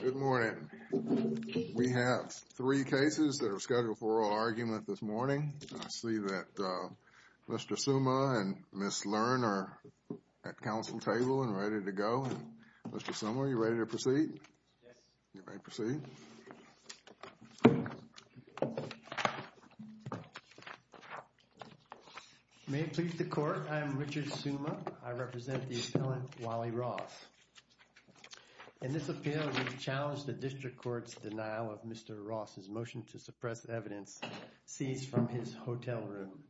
Good morning. We have three cases that are scheduled for oral argument this morning. I see that Mr. Summa and Ms. Lerner are at council table and ready to go. Mr. Summa, are you ready to proceed? Yes. You may proceed. May it please the court, I am Richard Summa. I represent the appellant Wali Ross. In this appeal, we challenge the district court's denial of Mr. Ross' motion to suppress evidence seized from his hotel room.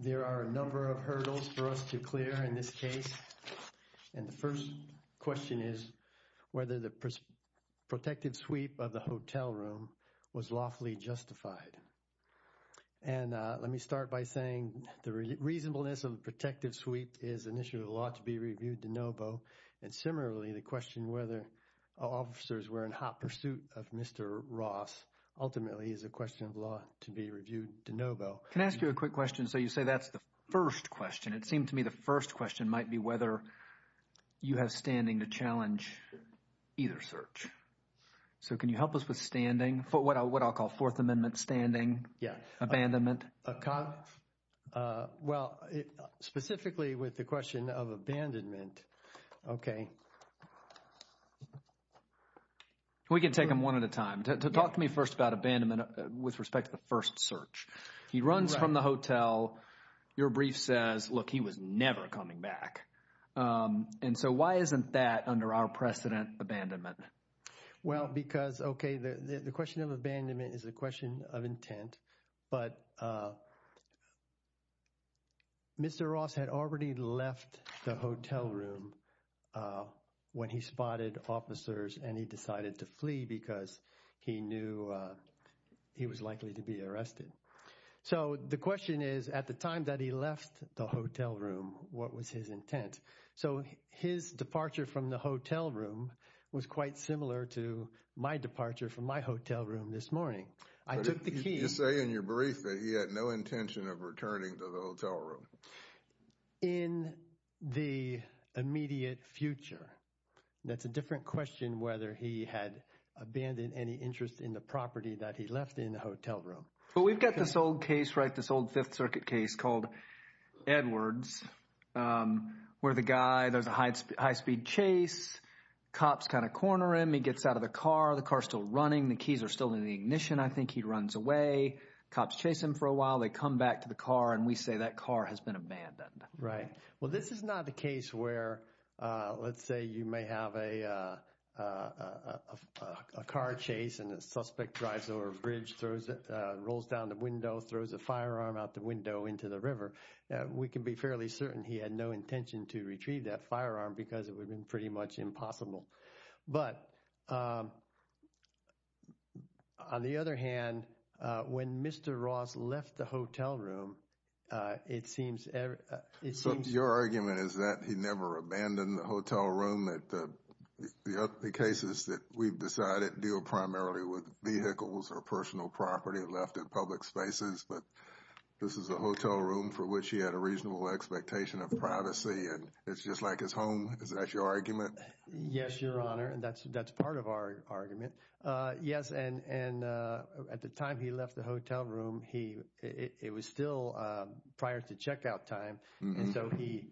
There are a number of hurdles for us to clear in this case. And the first question is whether the protective sweep of the hotel room was lawfully justified. And let me start by saying the reasonableness of the protective sweep is an issue of the law to be reviewed de novo. And similarly, the question whether officers were in hot pursuit of Mr. Ross ultimately is a question of law to be reviewed de novo. Can I ask you a quick question? So you say that's the first question. It seemed to me the first question might be whether you have standing to challenge either search. So can you help us with standing, what I'll call Fourth Amendment standing, abandonment? Well, specifically with the question of abandonment, okay. We can take them one at a time. Talk to me first about abandonment with respect to the first search. He runs from the hotel. Your brief says, look, he was never coming back. And so why isn't that under our precedent abandonment? Well, because, okay, the question of abandonment is a question of intent. But Mr. Ross had already left the hotel room when he spotted officers and he decided to flee because he knew he was likely to be arrested. So the question is, at the time that he left the hotel room, what was his intent? So his departure from the hotel room was quite similar to my departure from my hotel room this morning. I took the key. You say in your brief that he had no intention of returning to the hotel room. In the immediate future, that's a different question, whether he had abandoned any interest in the property that he left in the hotel room. But we've got this old case, right, this old Fifth Circuit case called Edwards, where the guy, there's a high speed chase. Cops kind of corner him. He gets out of the car. The car's still running. The keys are still in the ignition. I think he runs away. Cops chase him for a while. They come back to the car and we say that car has been abandoned. Right. Well, this is not the case where, let's say you may have a car chase and the suspect drives over a bridge, throws it, rolls down the window, throws a firearm out the window into the river. We can be fairly certain he had no intention to retrieve that firearm because it would have been pretty much impossible. But on the other hand, when Mr. Ross left the hotel room, it seems, it seems. So your argument is that he never abandoned the hotel room, that the cases that we've decided deal primarily with vehicles or personal property left in public spaces. But this is a hotel room for which he had a reasonable expectation of privacy. And it's just like his home. Is that your argument? Yes, Your Honor. And that's that's part of our argument. Yes. And at the time he left the hotel room, he it was still prior to checkout time. And so he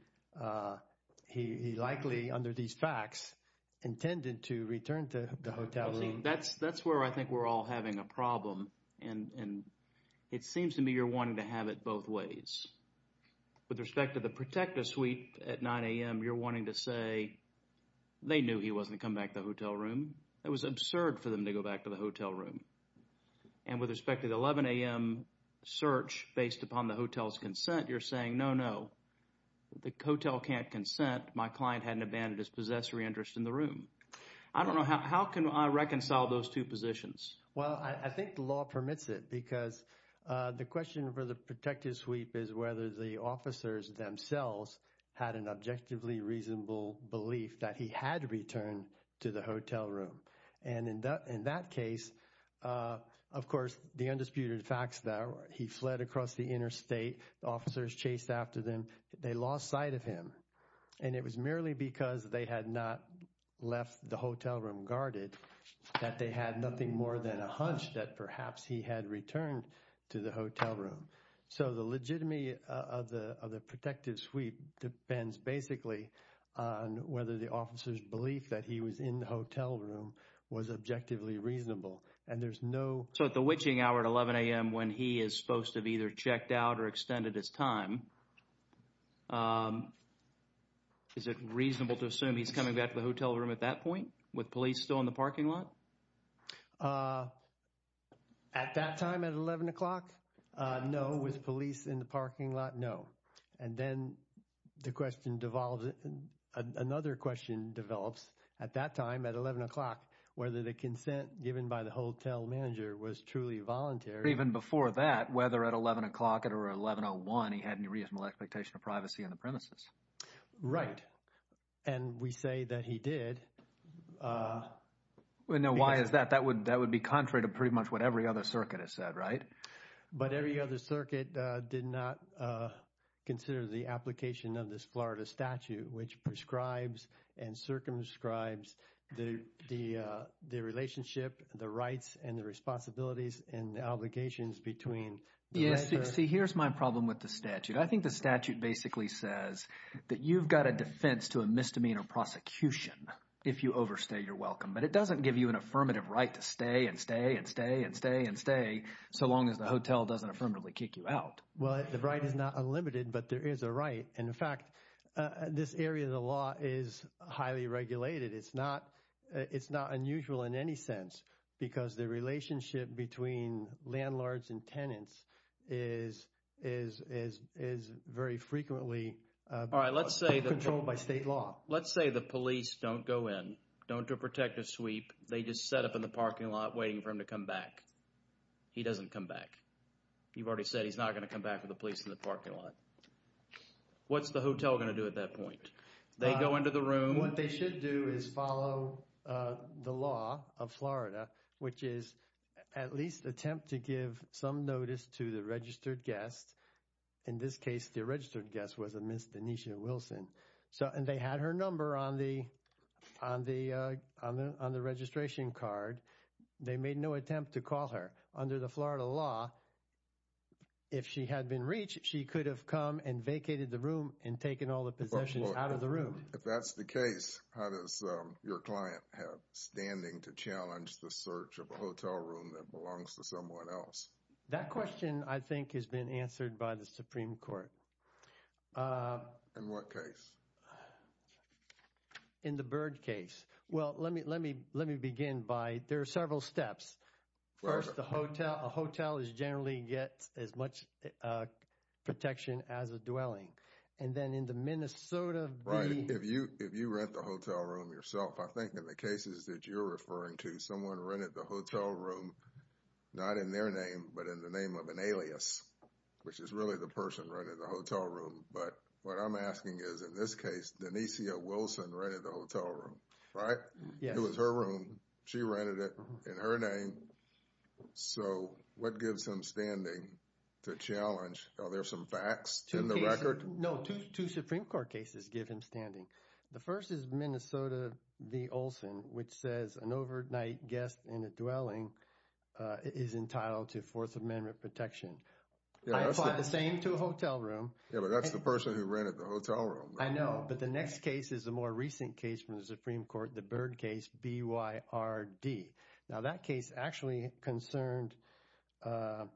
he likely under these facts intended to return to the hotel. That's that's where I think we're all having a problem. And it seems to me you're wanting to have it both ways. With respect to the protective sweep at 9 a.m., you're wanting to say they knew he wasn't come back to the hotel room. It was absurd for them to go back to the hotel room. And with respect to the 11 a.m. search based upon the hotel's consent, you're saying, no, no, the hotel can't consent. My client hadn't abandoned his possessory interest in the room. I don't know. How can I reconcile those two positions? Well, I think the law permits it because the question for the protective sweep is whether the officers themselves had an objectively reasonable belief that he had returned to the hotel room. And in that in that case, of course, the undisputed facts that he fled across the interstate. The officers chased after them. They lost sight of him. And it was merely because they had not left the hotel room guarded that they had nothing more than a hunch that perhaps he had returned to the hotel room. So the legitimacy of the of the protective sweep depends basically on whether the officer's belief that he was in the hotel room was objectively reasonable. And there's no. So at the witching hour at 11 a.m., when he is supposed to be either checked out or extended his time. Is it reasonable to assume he's coming back to the hotel room at that point with police still in the parking lot? At that time at 11 o'clock? No. With police in the parking lot? No. And then the question devolves. Another question develops at that time at 11 o'clock, whether the consent given by the hotel manager was truly voluntary. Even before that, whether at 11 o'clock or 11 or one, he had any reasonable expectation of privacy on the premises. Right. And we say that he did. We know why is that? That would that would be contrary to pretty much what every other circuit has said. Right. But every other circuit did not consider the application of this Florida statute, which prescribes and circumscribes the the the relationship, the rights and the responsibilities and the obligations between. Yes. See, here's my problem with the statute. I think the statute basically says that you've got a defense to a misdemeanor prosecution if you overstay your welcome. But it doesn't give you an affirmative right to stay and stay and stay and stay and stay. So long as the hotel doesn't affirmatively kick you out. Well, the right is not unlimited, but there is a right. And in fact, this area of the law is highly regulated. It's not it's not unusual in any sense because the relationship between landlords and tenants is is is is very frequently. All right. Let's say controlled by state law. Let's say the police don't go in. Don't do a protective sweep. They just set up in the parking lot waiting for him to come back. He doesn't come back. You've already said he's not going to come back with the police in the parking lot. What's the hotel going to do at that point? They go into the room. What they should do is follow the law of Florida, which is at least attempt to give some notice to the registered guests. In this case, the registered guest was a Miss Denise Wilson. So and they had her number on the on the on the on the registration card. They made no attempt to call her under the Florida law. If she had been reached, she could have come and vacated the room and taken all the possessions out of the room. If that's the case, how does your client have standing to challenge the search of a hotel room that belongs to someone else? That question, I think, has been answered by the Supreme Court. In what case? In the Bird case. Well, let me let me let me begin by there are several steps. First, the hotel. A hotel is generally gets as much protection as a dwelling. And then in the Minnesota. Right. If you if you rent the hotel room yourself, I think in the cases that you're referring to, someone rented the hotel room. Not in their name, but in the name of an alias, which is really the person right in the hotel room. But what I'm asking is, in this case, Denise Wilson rented the hotel room, right? Yeah, it was her room. She rented it in her name. So what gives him standing to challenge? Are there some facts to the record? No. Two Supreme Court cases give him standing. The first is Minnesota v. Olson, which says an overnight guest in a dwelling is entitled to Fourth Amendment protection. I apply the same to a hotel room. Yeah, but that's the person who rented the hotel room. I know. But the next case is a more recent case from the Supreme Court, the Bird case, B.Y.R.D. Now, that case actually concerned a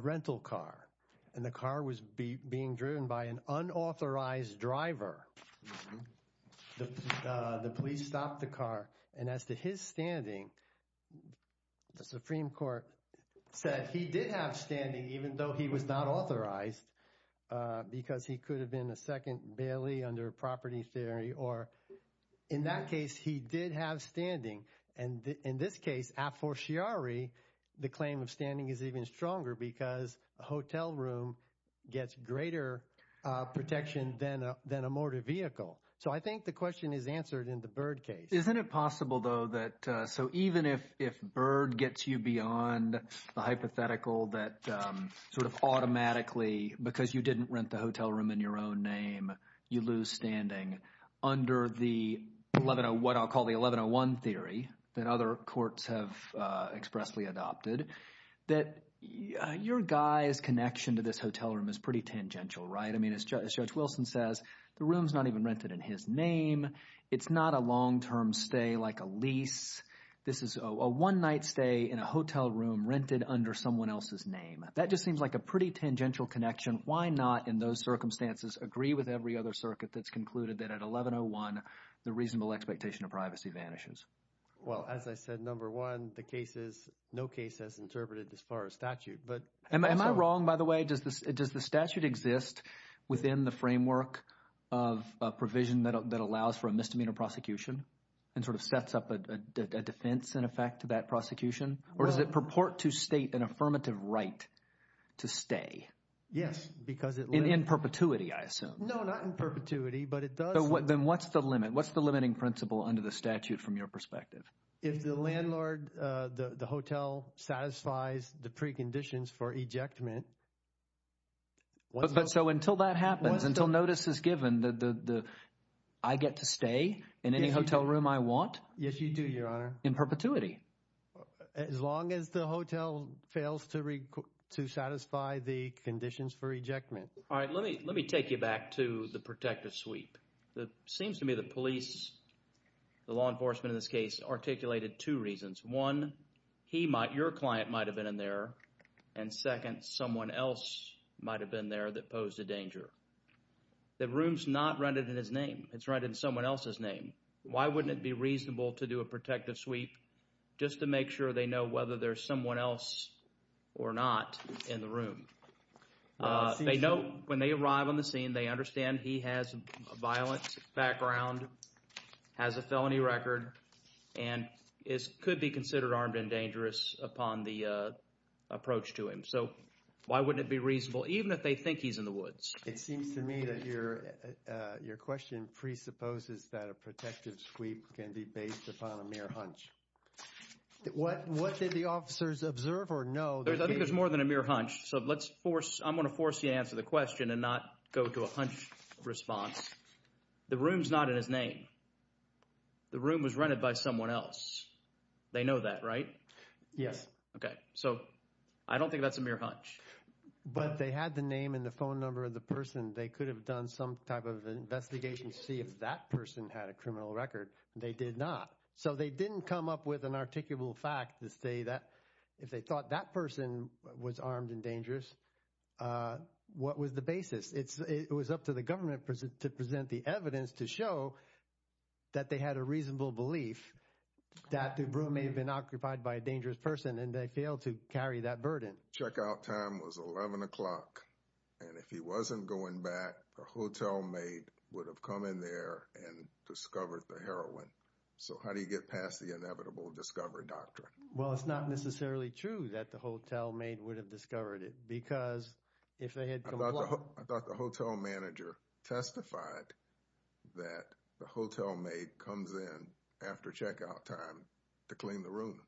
rental car. And the car was being driven by an unauthorized driver. The police stopped the car. And as to his standing, the Supreme Court said he did have standing even though he was not authorized because he could have been a second bailee under property theory. Or in that case, he did have standing. And in this case, a fortiori, the claim of standing is even stronger because a hotel room gets greater protection than a motor vehicle. So I think the question is answered in the Bird case. Isn't it possible, though, that so even if Bird gets you beyond the hypothetical that sort of automatically because you didn't rent the hotel room in your own name, you lose standing under the 1101, what I'll call the 1101 theory that other courts have expressly adopted, that your guy's connection to this hotel room is pretty tangential, right? I mean, as Judge Wilson says, the room is not even rented in his name. It's not a long-term stay like a lease. This is a one-night stay in a hotel room rented under someone else's name. That just seems like a pretty tangential connection. Why not in those circumstances agree with every other circuit that's concluded that at 1101, the reasonable expectation of privacy vanishes? Well, as I said, number one, the case is – no case has interpreted as far as statute. Am I wrong, by the way? Does the statute exist within the framework of a provision that allows for a misdemeanor prosecution and sort of sets up a defense in effect to that prosecution? Or does it purport to state an affirmative right to stay? Yes, because it – In perpetuity, I assume. No, not in perpetuity, but it does – Then what's the limit? What's the limiting principle under the statute from your perspective? If the landlord – the hotel satisfies the preconditions for ejectment – But so until that happens, until notice is given, I get to stay in any hotel room I want? Yes, you do, Your Honor. In perpetuity? As long as the hotel fails to satisfy the conditions for ejectment. All right. Let me take you back to the protective sweep. It seems to me the police, the law enforcement in this case, articulated two reasons. One, he might – your client might have been in there, and second, someone else might have been there that posed a danger. The room's not rendered in his name. It's rendered in someone else's name. Why wouldn't it be reasonable to do a protective sweep just to make sure they know whether there's someone else or not in the room? They know when they arrive on the scene, they understand he has a violent background, has a felony record, and could be considered armed and dangerous upon the approach to him. So why wouldn't it be reasonable, even if they think he's in the woods? It seems to me that your question presupposes that a protective sweep can be based upon a mere hunch. What did the officers observe or know? I think there's more than a mere hunch, so let's force – I'm going to force you to answer the question and not go to a hunch response. The room's not in his name. The room was rented by someone else. They know that, right? Yes. Okay. So I don't think that's a mere hunch. But they had the name and the phone number of the person. They could have done some type of investigation to see if that person had a criminal record. They did not. So they didn't come up with an articulable fact to say that if they thought that person was armed and dangerous, what was the basis? It was up to the government to present the evidence to show that they had a reasonable belief that the room may have been occupied by a dangerous person, and they failed to carry that burden. Checkout time was 11 o'clock, and if he wasn't going back, a hotel mate would have come in there and discovered the heroin. So how do you get past the inevitable discovery doctrine? Well, it's not necessarily true that the hotel mate would have discovered it because if they had come along – I thought the hotel manager testified that the hotel mate comes in after checkout time to clean the room.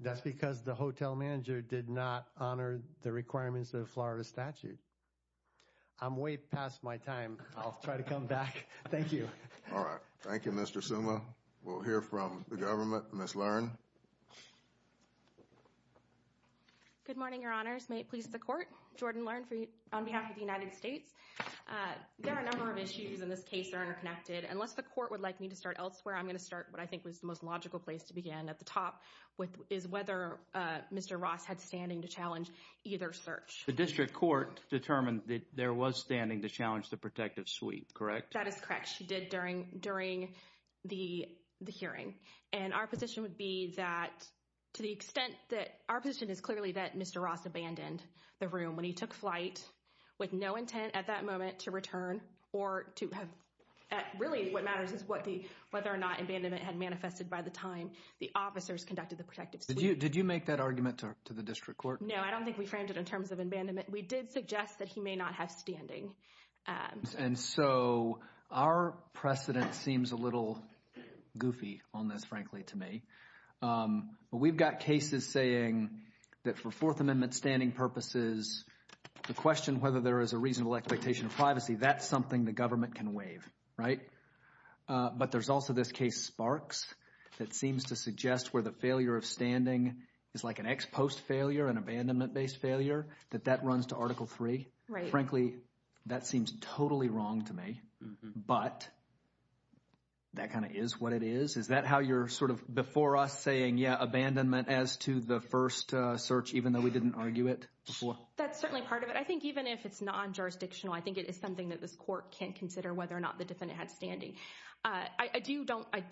That's because the hotel manager did not honor the requirements of the Florida statute. I'm way past my time. I'll try to come back. Thank you. All right. Thank you, Mr. Suma. We'll hear from the government. Ms. Learn. Good morning, Your Honors. May it please the Court. Jordan Learn on behalf of the United States. There are a number of issues in this case that are interconnected. Unless the Court would like me to start elsewhere, I'm going to start what I think was the most logical place to begin at the top, which is whether Mr. Ross had standing to challenge either search. The district court determined that there was standing to challenge the protective suite, correct? That is correct. That's what she did during the hearing. And our position would be that to the extent that – our position is clearly that Mr. Ross abandoned the room when he took flight with no intent at that moment to return or to have – really what matters is whether or not abandonment had manifested by the time the officers conducted the protective suite. Did you make that argument to the district court? No, I don't think we framed it in terms of abandonment. We did suggest that he may not have standing. And so our precedent seems a little goofy on this, frankly, to me. But we've got cases saying that for Fourth Amendment standing purposes, the question whether there is a reasonable expectation of privacy, that's something the government can waive, right? But there's also this case Sparks that seems to suggest where the failure of standing is like an ex-post failure, an abandonment-based failure, that that runs to Article III. Right. So, frankly, that seems totally wrong to me, but that kind of is what it is. Is that how you're sort of before us saying, yeah, abandonment as to the first search even though we didn't argue it before? That's certainly part of it. I think even if it's non-jurisdictional, I think it is something that this court can consider whether or not the defendant had standing. I do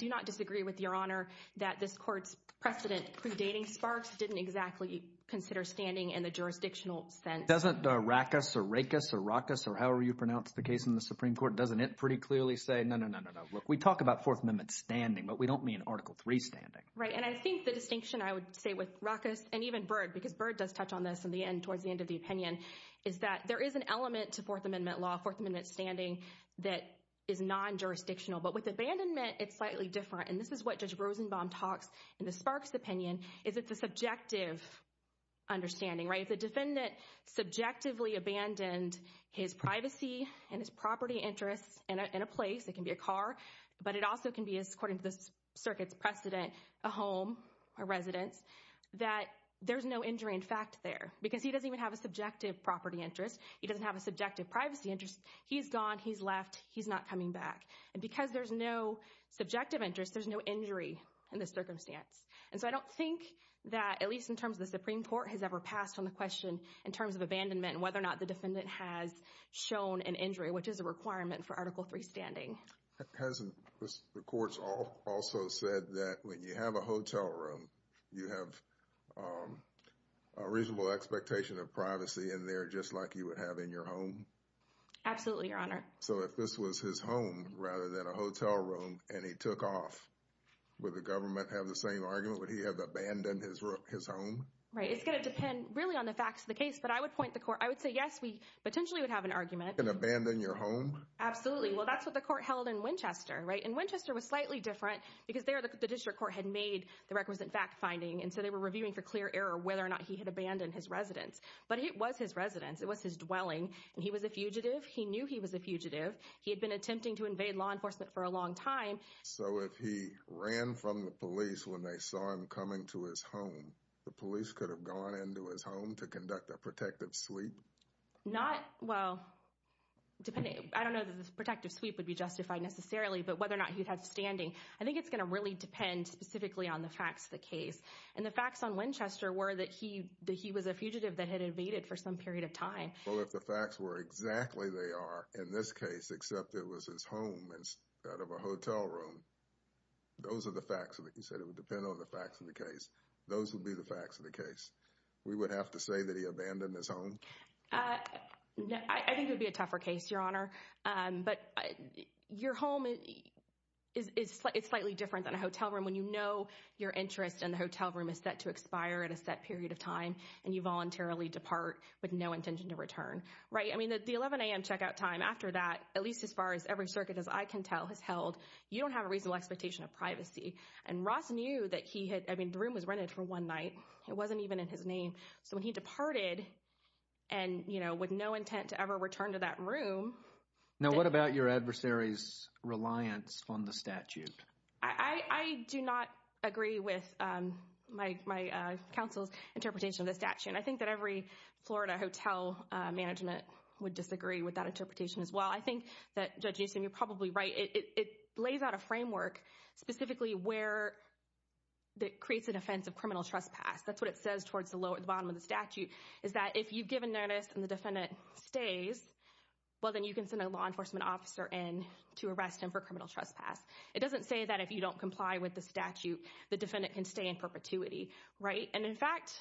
not disagree with Your Honor that this court's precedent predating Sparks didn't exactly consider standing in the jurisdictional sense. Doesn't Rackus or Rackus or Rackus or however you pronounce the case in the Supreme Court, doesn't it pretty clearly say, no, no, no, no, no? Look, we talk about Fourth Amendment standing, but we don't mean Article III standing. Right, and I think the distinction I would say with Rackus and even Byrd, because Byrd does touch on this in the end towards the end of the opinion, is that there is an element to Fourth Amendment law, Fourth Amendment standing that is non-jurisdictional. But with abandonment, it's slightly different. And this is what Judge Rosenbaum talks in the Sparks opinion is it's a subjective understanding, right? If the defendant subjectively abandoned his privacy and his property interests in a place, it can be a car, but it also can be, according to the circuit's precedent, a home, a residence, that there's no injury in fact there. Because he doesn't even have a subjective property interest. He doesn't have a subjective privacy interest. He's gone. He's left. He's not coming back. And because there's no subjective interest, there's no injury in the circumstance. And so I don't think that, at least in terms of the Supreme Court, has ever passed on the question in terms of abandonment and whether or not the defendant has shown an injury, which is a requirement for Article III standing. Hasn't the courts also said that when you have a hotel room, you have a reasonable expectation of privacy in there just like you would have in your home? Absolutely, Your Honor. So if this was his home rather than a hotel room and he took off, would the government have the same argument? Would he have abandoned his home? Right. It's going to depend really on the facts of the case. But I would point the court. I would say, yes, we potentially would have an argument. And abandon your home? Absolutely. Well, that's what the court held in Winchester, right? And Winchester was slightly different because there the district court had made the requisite fact finding. And so they were reviewing for clear error whether or not he had abandoned his residence. But it was his residence. It was his dwelling. And he was a fugitive. He knew he was a fugitive. He had been attempting to invade law enforcement for a long time. So if he ran from the police when they saw him coming to his home, the police could have gone into his home to conduct a protective sweep? Not, well, depending. I don't know that this protective sweep would be justified necessarily, but whether or not he had standing. I think it's going to really depend specifically on the facts of the case. And the facts on Winchester were that he was a fugitive that had invaded for some period of time. Well, if the facts were exactly they are in this case, except it was his home instead of a hotel room, those are the facts. Like you said, it would depend on the facts of the case. Those would be the facts of the case. We would have to say that he abandoned his home? I think it would be a tougher case, Your Honor. But your home is slightly different than a hotel room when you know your interest in the hotel room is set to expire at a set period of time and you voluntarily depart with no intention to return. Right. I mean, the 11 a.m. Checkout time after that, at least as far as every circuit as I can tell, has held. You don't have a reasonable expectation of privacy. And Ross knew that he had. I mean, the room was rented for one night. It wasn't even in his name. So when he departed and, you know, with no intent to ever return to that room. Now, what about your adversaries' reliance on the statute? I do not agree with my counsel's interpretation of the statute. I think that every Florida hotel management would disagree with that interpretation as well. I think that, Judge Newsom, you're probably right. It lays out a framework specifically where it creates an offense of criminal trespass. That's what it says towards the bottom of the statute, is that if you give a notice and the defendant stays, well, then you can send a law enforcement officer in to arrest him for criminal trespass. It doesn't say that if you don't comply with the statute, the defendant can stay in perpetuity. Right. And, in fact,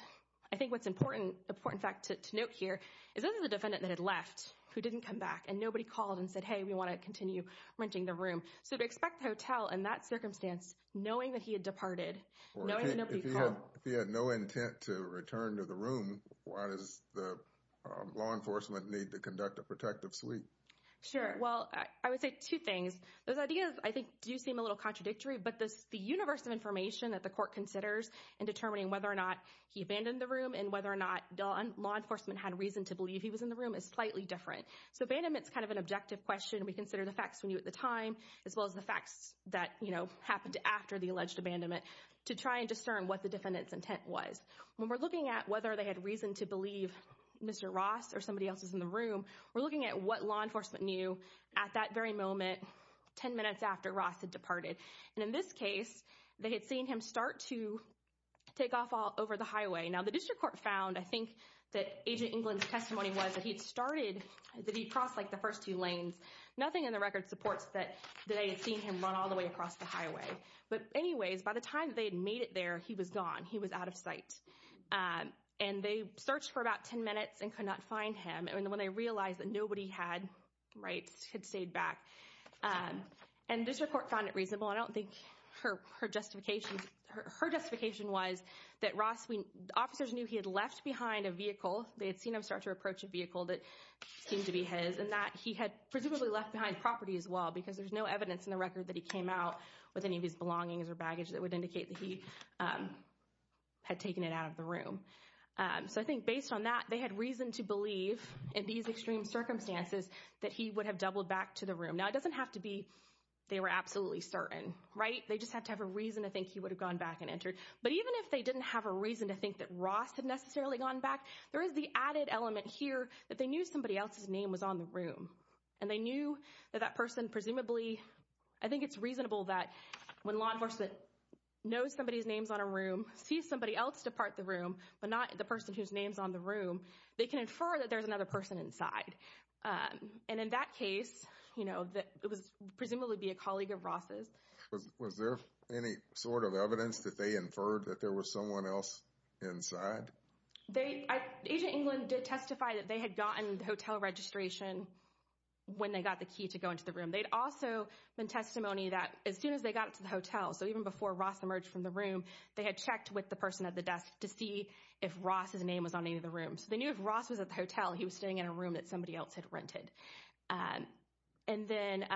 I think what's important fact to note here is that the defendant that had left, who didn't come back, and nobody called and said, hey, we want to continue renting the room. So to expect the hotel in that circumstance, knowing that he had departed, knowing that nobody called. If he had no intent to return to the room, why does the law enforcement need to conduct a protective suite? Sure. Well, I would say two things. Those ideas, I think, do seem a little contradictory. But the universe of information that the court considers in determining whether or not he abandoned the room and whether or not law enforcement had reason to believe he was in the room is slightly different. So abandonment is kind of an objective question. We consider the facts we knew at the time, as well as the facts that happened after the alleged abandonment, to try and discern what the defendant's intent was. When we're looking at whether they had reason to believe Mr. Ross or somebody else was in the room, we're looking at what law enforcement knew at that very moment, 10 minutes after Ross had departed. And in this case, they had seen him start to take off over the highway. Now, the district court found, I think, that Agent England's testimony was that he had started, that he had crossed, like, the first two lanes. Nothing in the record supports that they had seen him run all the way across the highway. But anyways, by the time they had made it there, he was gone. He was out of sight. And they searched for about 10 minutes and could not find him. And when they realized that nobody had, right, had stayed back. And district court found it reasonable. I don't think her justification, her justification was that Ross, officers knew he had left behind a vehicle. They had seen him start to approach a vehicle that seemed to be his. And that he had presumably left behind property, as well, because there's no evidence in the record that he came out with any of his belongings or baggage that would indicate that he had taken it out of the room. So I think based on that, they had reason to believe, in these extreme circumstances, that he would have doubled back to the room. Now, it doesn't have to be they were absolutely certain, right? They just had to have a reason to think he would have gone back and entered. But even if they didn't have a reason to think that Ross had necessarily gone back, there is the added element here that they knew somebody else's name was on the room. And they knew that that person presumably, I think it's reasonable that when law enforcement knows somebody's name is on a room, sees somebody else depart the room, but not the person whose name is on the room, they can infer that there's another person inside. And in that case, it would presumably be a colleague of Ross's. Was there any sort of evidence that they inferred that there was someone else inside? Agent England did testify that they had gotten the hotel registration when they got the key to go into the room. They'd also been testimony that as soon as they got to the hotel, so even before Ross emerged from the room, they had checked with the person at the desk to see if Ross's name was on any of the rooms. They knew if Ross was at the hotel, he was staying in a room that somebody else had rented. And then,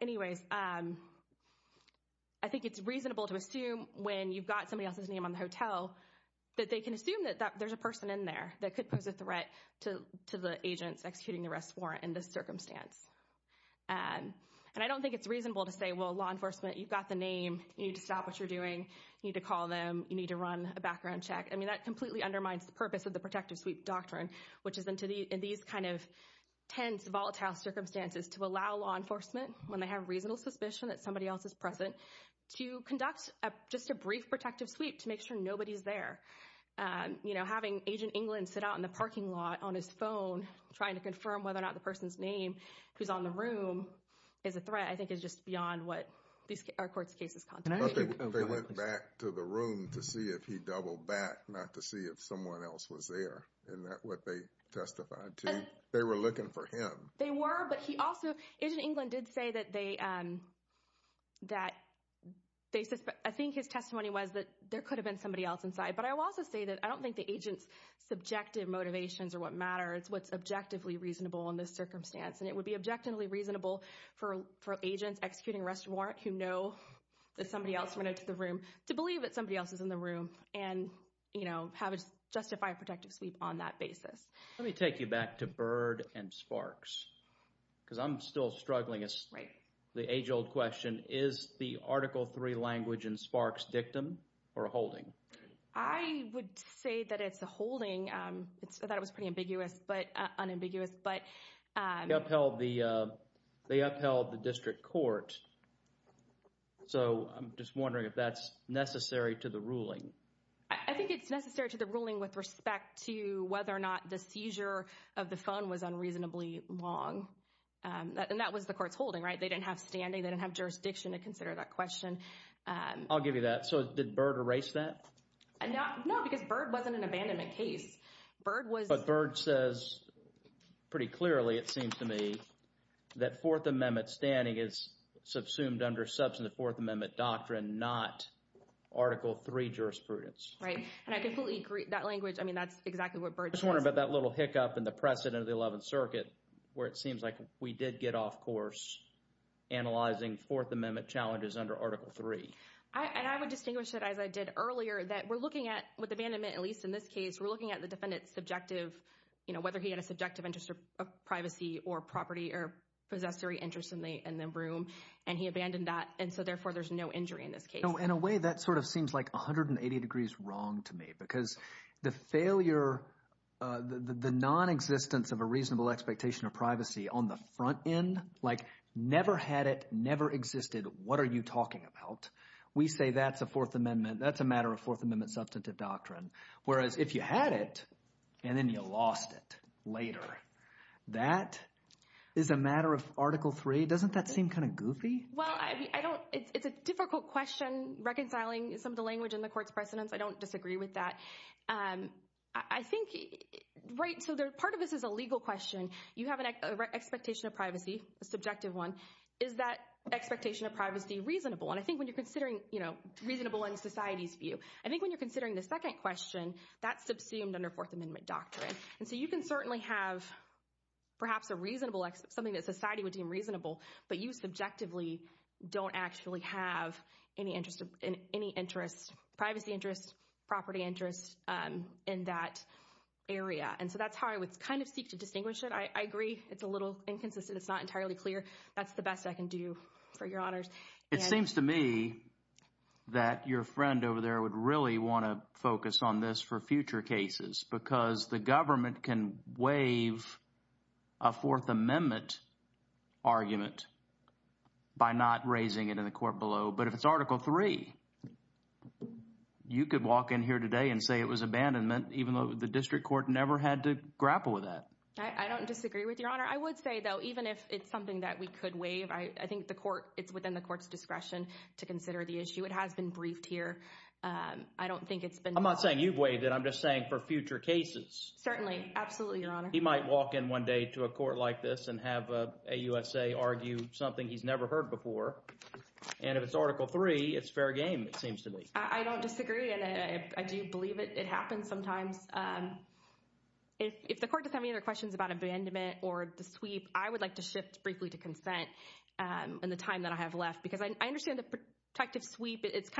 anyways, I think it's reasonable to assume when you've got somebody else's name on the hotel, that they can assume that there's a person in there that could pose a threat to the agents executing the arrest warrant in this circumstance. And I don't think it's reasonable to say, well, law enforcement, you've got the name, you need to stop what you're doing, you need to call them, you need to run a background check. I mean, that completely undermines the purpose of the protective sweep doctrine, which is in these kind of tense, volatile circumstances to allow law enforcement, when they have reasonable suspicion that somebody else is present, to conduct just a brief protective sweep to make sure nobody's there. You know, having Agent England sit out in the parking lot on his phone, trying to confirm whether or not the person's name who's on the room is a threat, I think, is just beyond what our court's case is content. They went back to the room to see if he doubled back, not to see if someone else was there. Isn't that what they testified to? They were looking for him. They were, but he also, Agent England did say that they, I think his testimony was that there could have been somebody else inside. But I will also say that I don't think the agent's subjective motivations are what matter. It's what's objectively reasonable in this circumstance. And it would be objectively reasonable for agents executing arrest warrant who know that somebody else went into the room to believe that somebody else is in the room and, you know, have a justified protective sweep on that basis. Let me take you back to Byrd and Sparks because I'm still struggling. Right. The age-old question, is the Article III language in Sparks dictum or holding? I would say that it's a holding. I thought it was pretty ambiguous, but unambiguous. They upheld the district court. So I'm just wondering if that's necessary to the ruling. I think it's necessary to the ruling with respect to whether or not the seizure of the phone was unreasonably long. And that was the court's holding, right? They didn't have standing. They didn't have jurisdiction to consider that question. I'll give you that. So did Byrd erase that? No, because Byrd wasn't an abandonment case. But Byrd says pretty clearly, it seems to me, that Fourth Amendment standing is subsumed under substantive Fourth Amendment doctrine, not Article III jurisprudence. Right. And I completely agree. That language, I mean, that's exactly what Byrd says. I'm just wondering about that little hiccup in the precedent of the Eleventh Circuit where it seems like we did get off course analyzing Fourth Amendment challenges under Article III. And I would distinguish that, as I did earlier, that we're looking at with abandonment, at least in this case, we're looking at the defendant's subjective, whether he had a subjective interest of privacy or property or possessory interest in the room, and he abandoned that. And so, therefore, there's no injury in this case. In a way, that sort of seems like 180 degrees wrong to me because the failure, the nonexistence of a reasonable expectation of privacy on the front end, like never had it, never existed. What are you talking about? We say that's a Fourth Amendment. That's a matter of Fourth Amendment substantive doctrine, whereas if you had it and then you lost it later, that is a matter of Article III. Doesn't that seem kind of goofy? Well, I don't – it's a difficult question reconciling some of the language in the court's precedents. I don't disagree with that. I think – right, so part of this is a legal question. You have an expectation of privacy, a subjective one. Is that expectation of privacy reasonable? And I think when you're considering – you know, reasonable in society's view. I think when you're considering the second question, that's subsumed under Fourth Amendment doctrine. And so you can certainly have perhaps a reasonable – something that society would deem reasonable, but you subjectively don't actually have any interest – privacy interest, property interest in that area. And so that's how I would kind of seek to distinguish it. I agree it's a little inconsistent. It's not entirely clear. That's the best I can do for your honors. It seems to me that your friend over there would really want to focus on this for future cases because the government can waive a Fourth Amendment argument by not raising it in the court below. But if it's Article III, you could walk in here today and say it was abandonment even though the district court never had to grapple with that. I don't disagree with your honor. I would say, though, even if it's something that we could waive, I think the court – it's within the court's discretion to consider the issue. It has been briefed here. I don't think it's been – I'm not saying you've waived it. I'm just saying for future cases. Certainly. Absolutely, your honor. He might walk in one day to a court like this and have a USA argue something he's never heard before, and if it's Article III, it's fair game it seems to me. I don't disagree, and I do believe it happens sometimes. If the court doesn't have any other questions about abandonment or the sweep, I would like to shift briefly to consent in the time that I have left because I understand the protective sweep, it's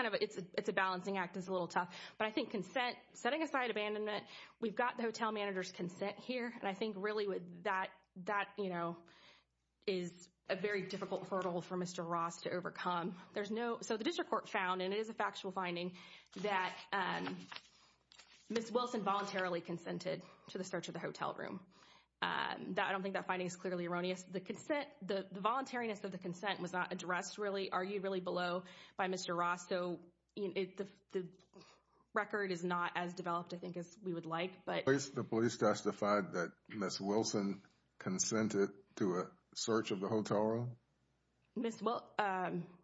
a balancing act, is a little tough. But I think consent, setting aside abandonment, we've got the hotel manager's consent here, and I think really that is a very difficult hurdle for Mr. Ross to overcome. There's no – so the district court found, and it is a factual finding, that Ms. Wilson voluntarily consented to the search of the hotel room. I don't think that finding is clearly erroneous. The consent – the voluntariness of the consent was not addressed really, argued really below by Mr. Ross, so the record is not as developed, I think, as we would like. The police testified that Ms. Wilson consented to a search of the hotel room? Ms. –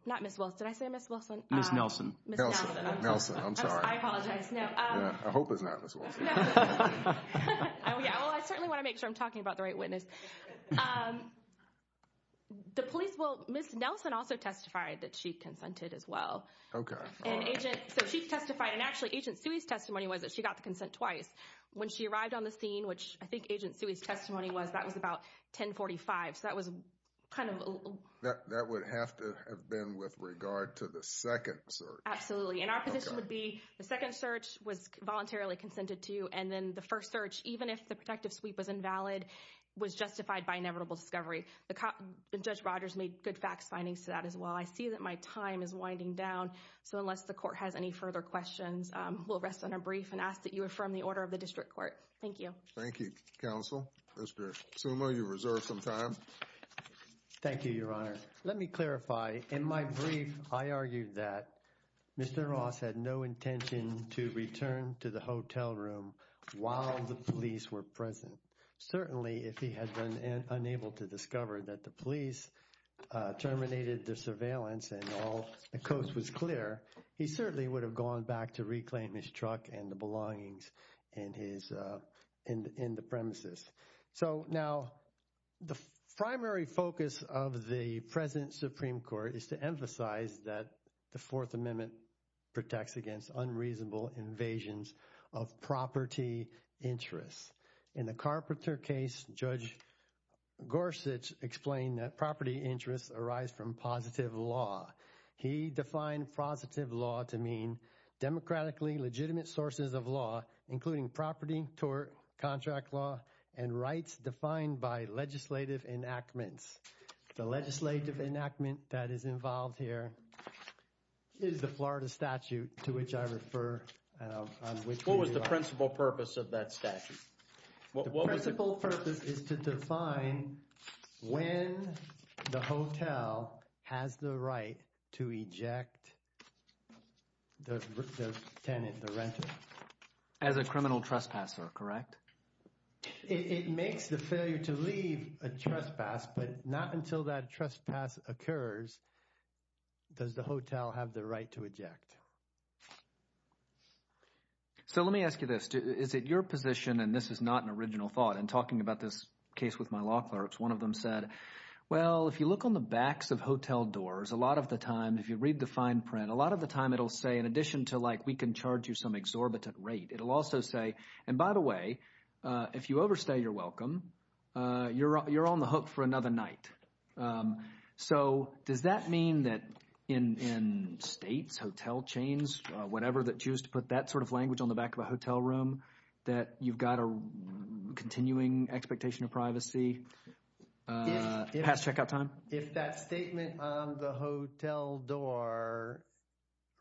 not Ms. Wilson. Did I say Ms. Wilson? Ms. Nelson. Nelson. I'm sorry. I apologize. No. I hope it's not Ms. Wilson. Oh, yeah. Well, I certainly want to make sure I'm talking about the right witness. The police – well, Ms. Nelson also testified that she consented as well. Okay. So she testified, and actually, Agent Sui's testimony was that she got the consent twice. When she arrived on the scene, which I think Agent Sui's testimony was, that was about 1045, so that was kind of – That would have to have been with regard to the second search. Absolutely, and our position would be the second search was voluntarily consented to, and then the first search, even if the protective sweep was invalid, was justified by inevitable discovery. Judge Rogers made good facts findings to that as well. I see that my time is winding down. So unless the court has any further questions, we'll rest on a brief and ask that you affirm the order of the district court. Thank you. Thank you, counsel. Mr. Suma, you've reserved some time. Thank you, Your Honor. Let me clarify. In my brief, I argued that Mr. Ross had no intention to return to the hotel room while the police were present. Certainly, if he had been unable to discover that the police terminated their surveillance and all the coast was clear, he certainly would have gone back to reclaim his truck and the belongings in the premises. So now the primary focus of the present Supreme Court is to emphasize that the Fourth Amendment protects against unreasonable invasions of property interests. In the Carpenter case, Judge Gorsuch explained that property interests arise from positive law. He defined positive law to mean democratically legitimate sources of law, including property, tort, contract law, and rights defined by legislative enactments. The legislative enactment that is involved here is the Florida statute to which I refer. What was the principal purpose of that statute? The principal purpose is to define when the hotel has the right to eject the tenant, the renter. As a criminal trespasser, correct? It makes the failure to leave a trespass, but not until that trespass occurs does the hotel have the right to eject. So let me ask you this. Is it your position, and this is not an original thought, and talking about this case with my law clerks, one of them said, well, if you look on the backs of hotel doors, a lot of the time, if you read the fine print, a lot of the time it'll say, in addition to like we can charge you some exorbitant rate, it'll also say, and by the way, if you overstay your welcome, you're on the hook for another night. So does that mean that in states, hotel chains, whatever, that choose to put that sort of language on the back of a hotel room, that you've got a continuing expectation of privacy past checkout time? If that statement on the hotel door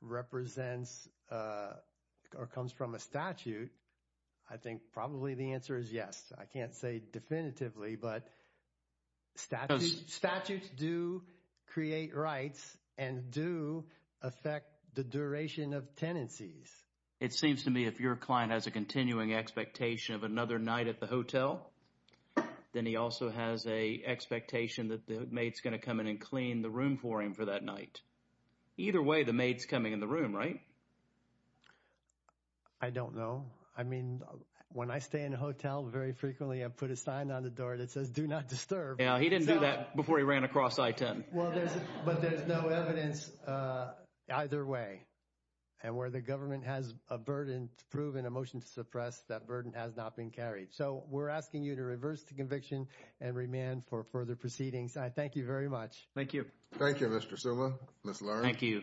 represents or comes from a statute, I think probably the answer is yes. I can't say definitively, but statutes do create rights and do affect the duration of tenancies. It seems to me if your client has a continuing expectation of another night at the hotel, then he also has an expectation that the maid's going to come in and clean the room for him for that night. Either way, the maid's coming in the room, right? I don't know. I mean when I stay in a hotel, very frequently I put a sign on the door that says do not disturb. Yeah, he didn't do that before he ran across I-10. Well, there's – but there's no evidence either way. And where the government has a burden to prove and a motion to suppress, that burden has not been carried. So we're asking you to reverse the conviction and remand for further proceedings. I thank you very much. Thank you. Thank you, Mr. Suma. Ms. Lawrence. Thank you.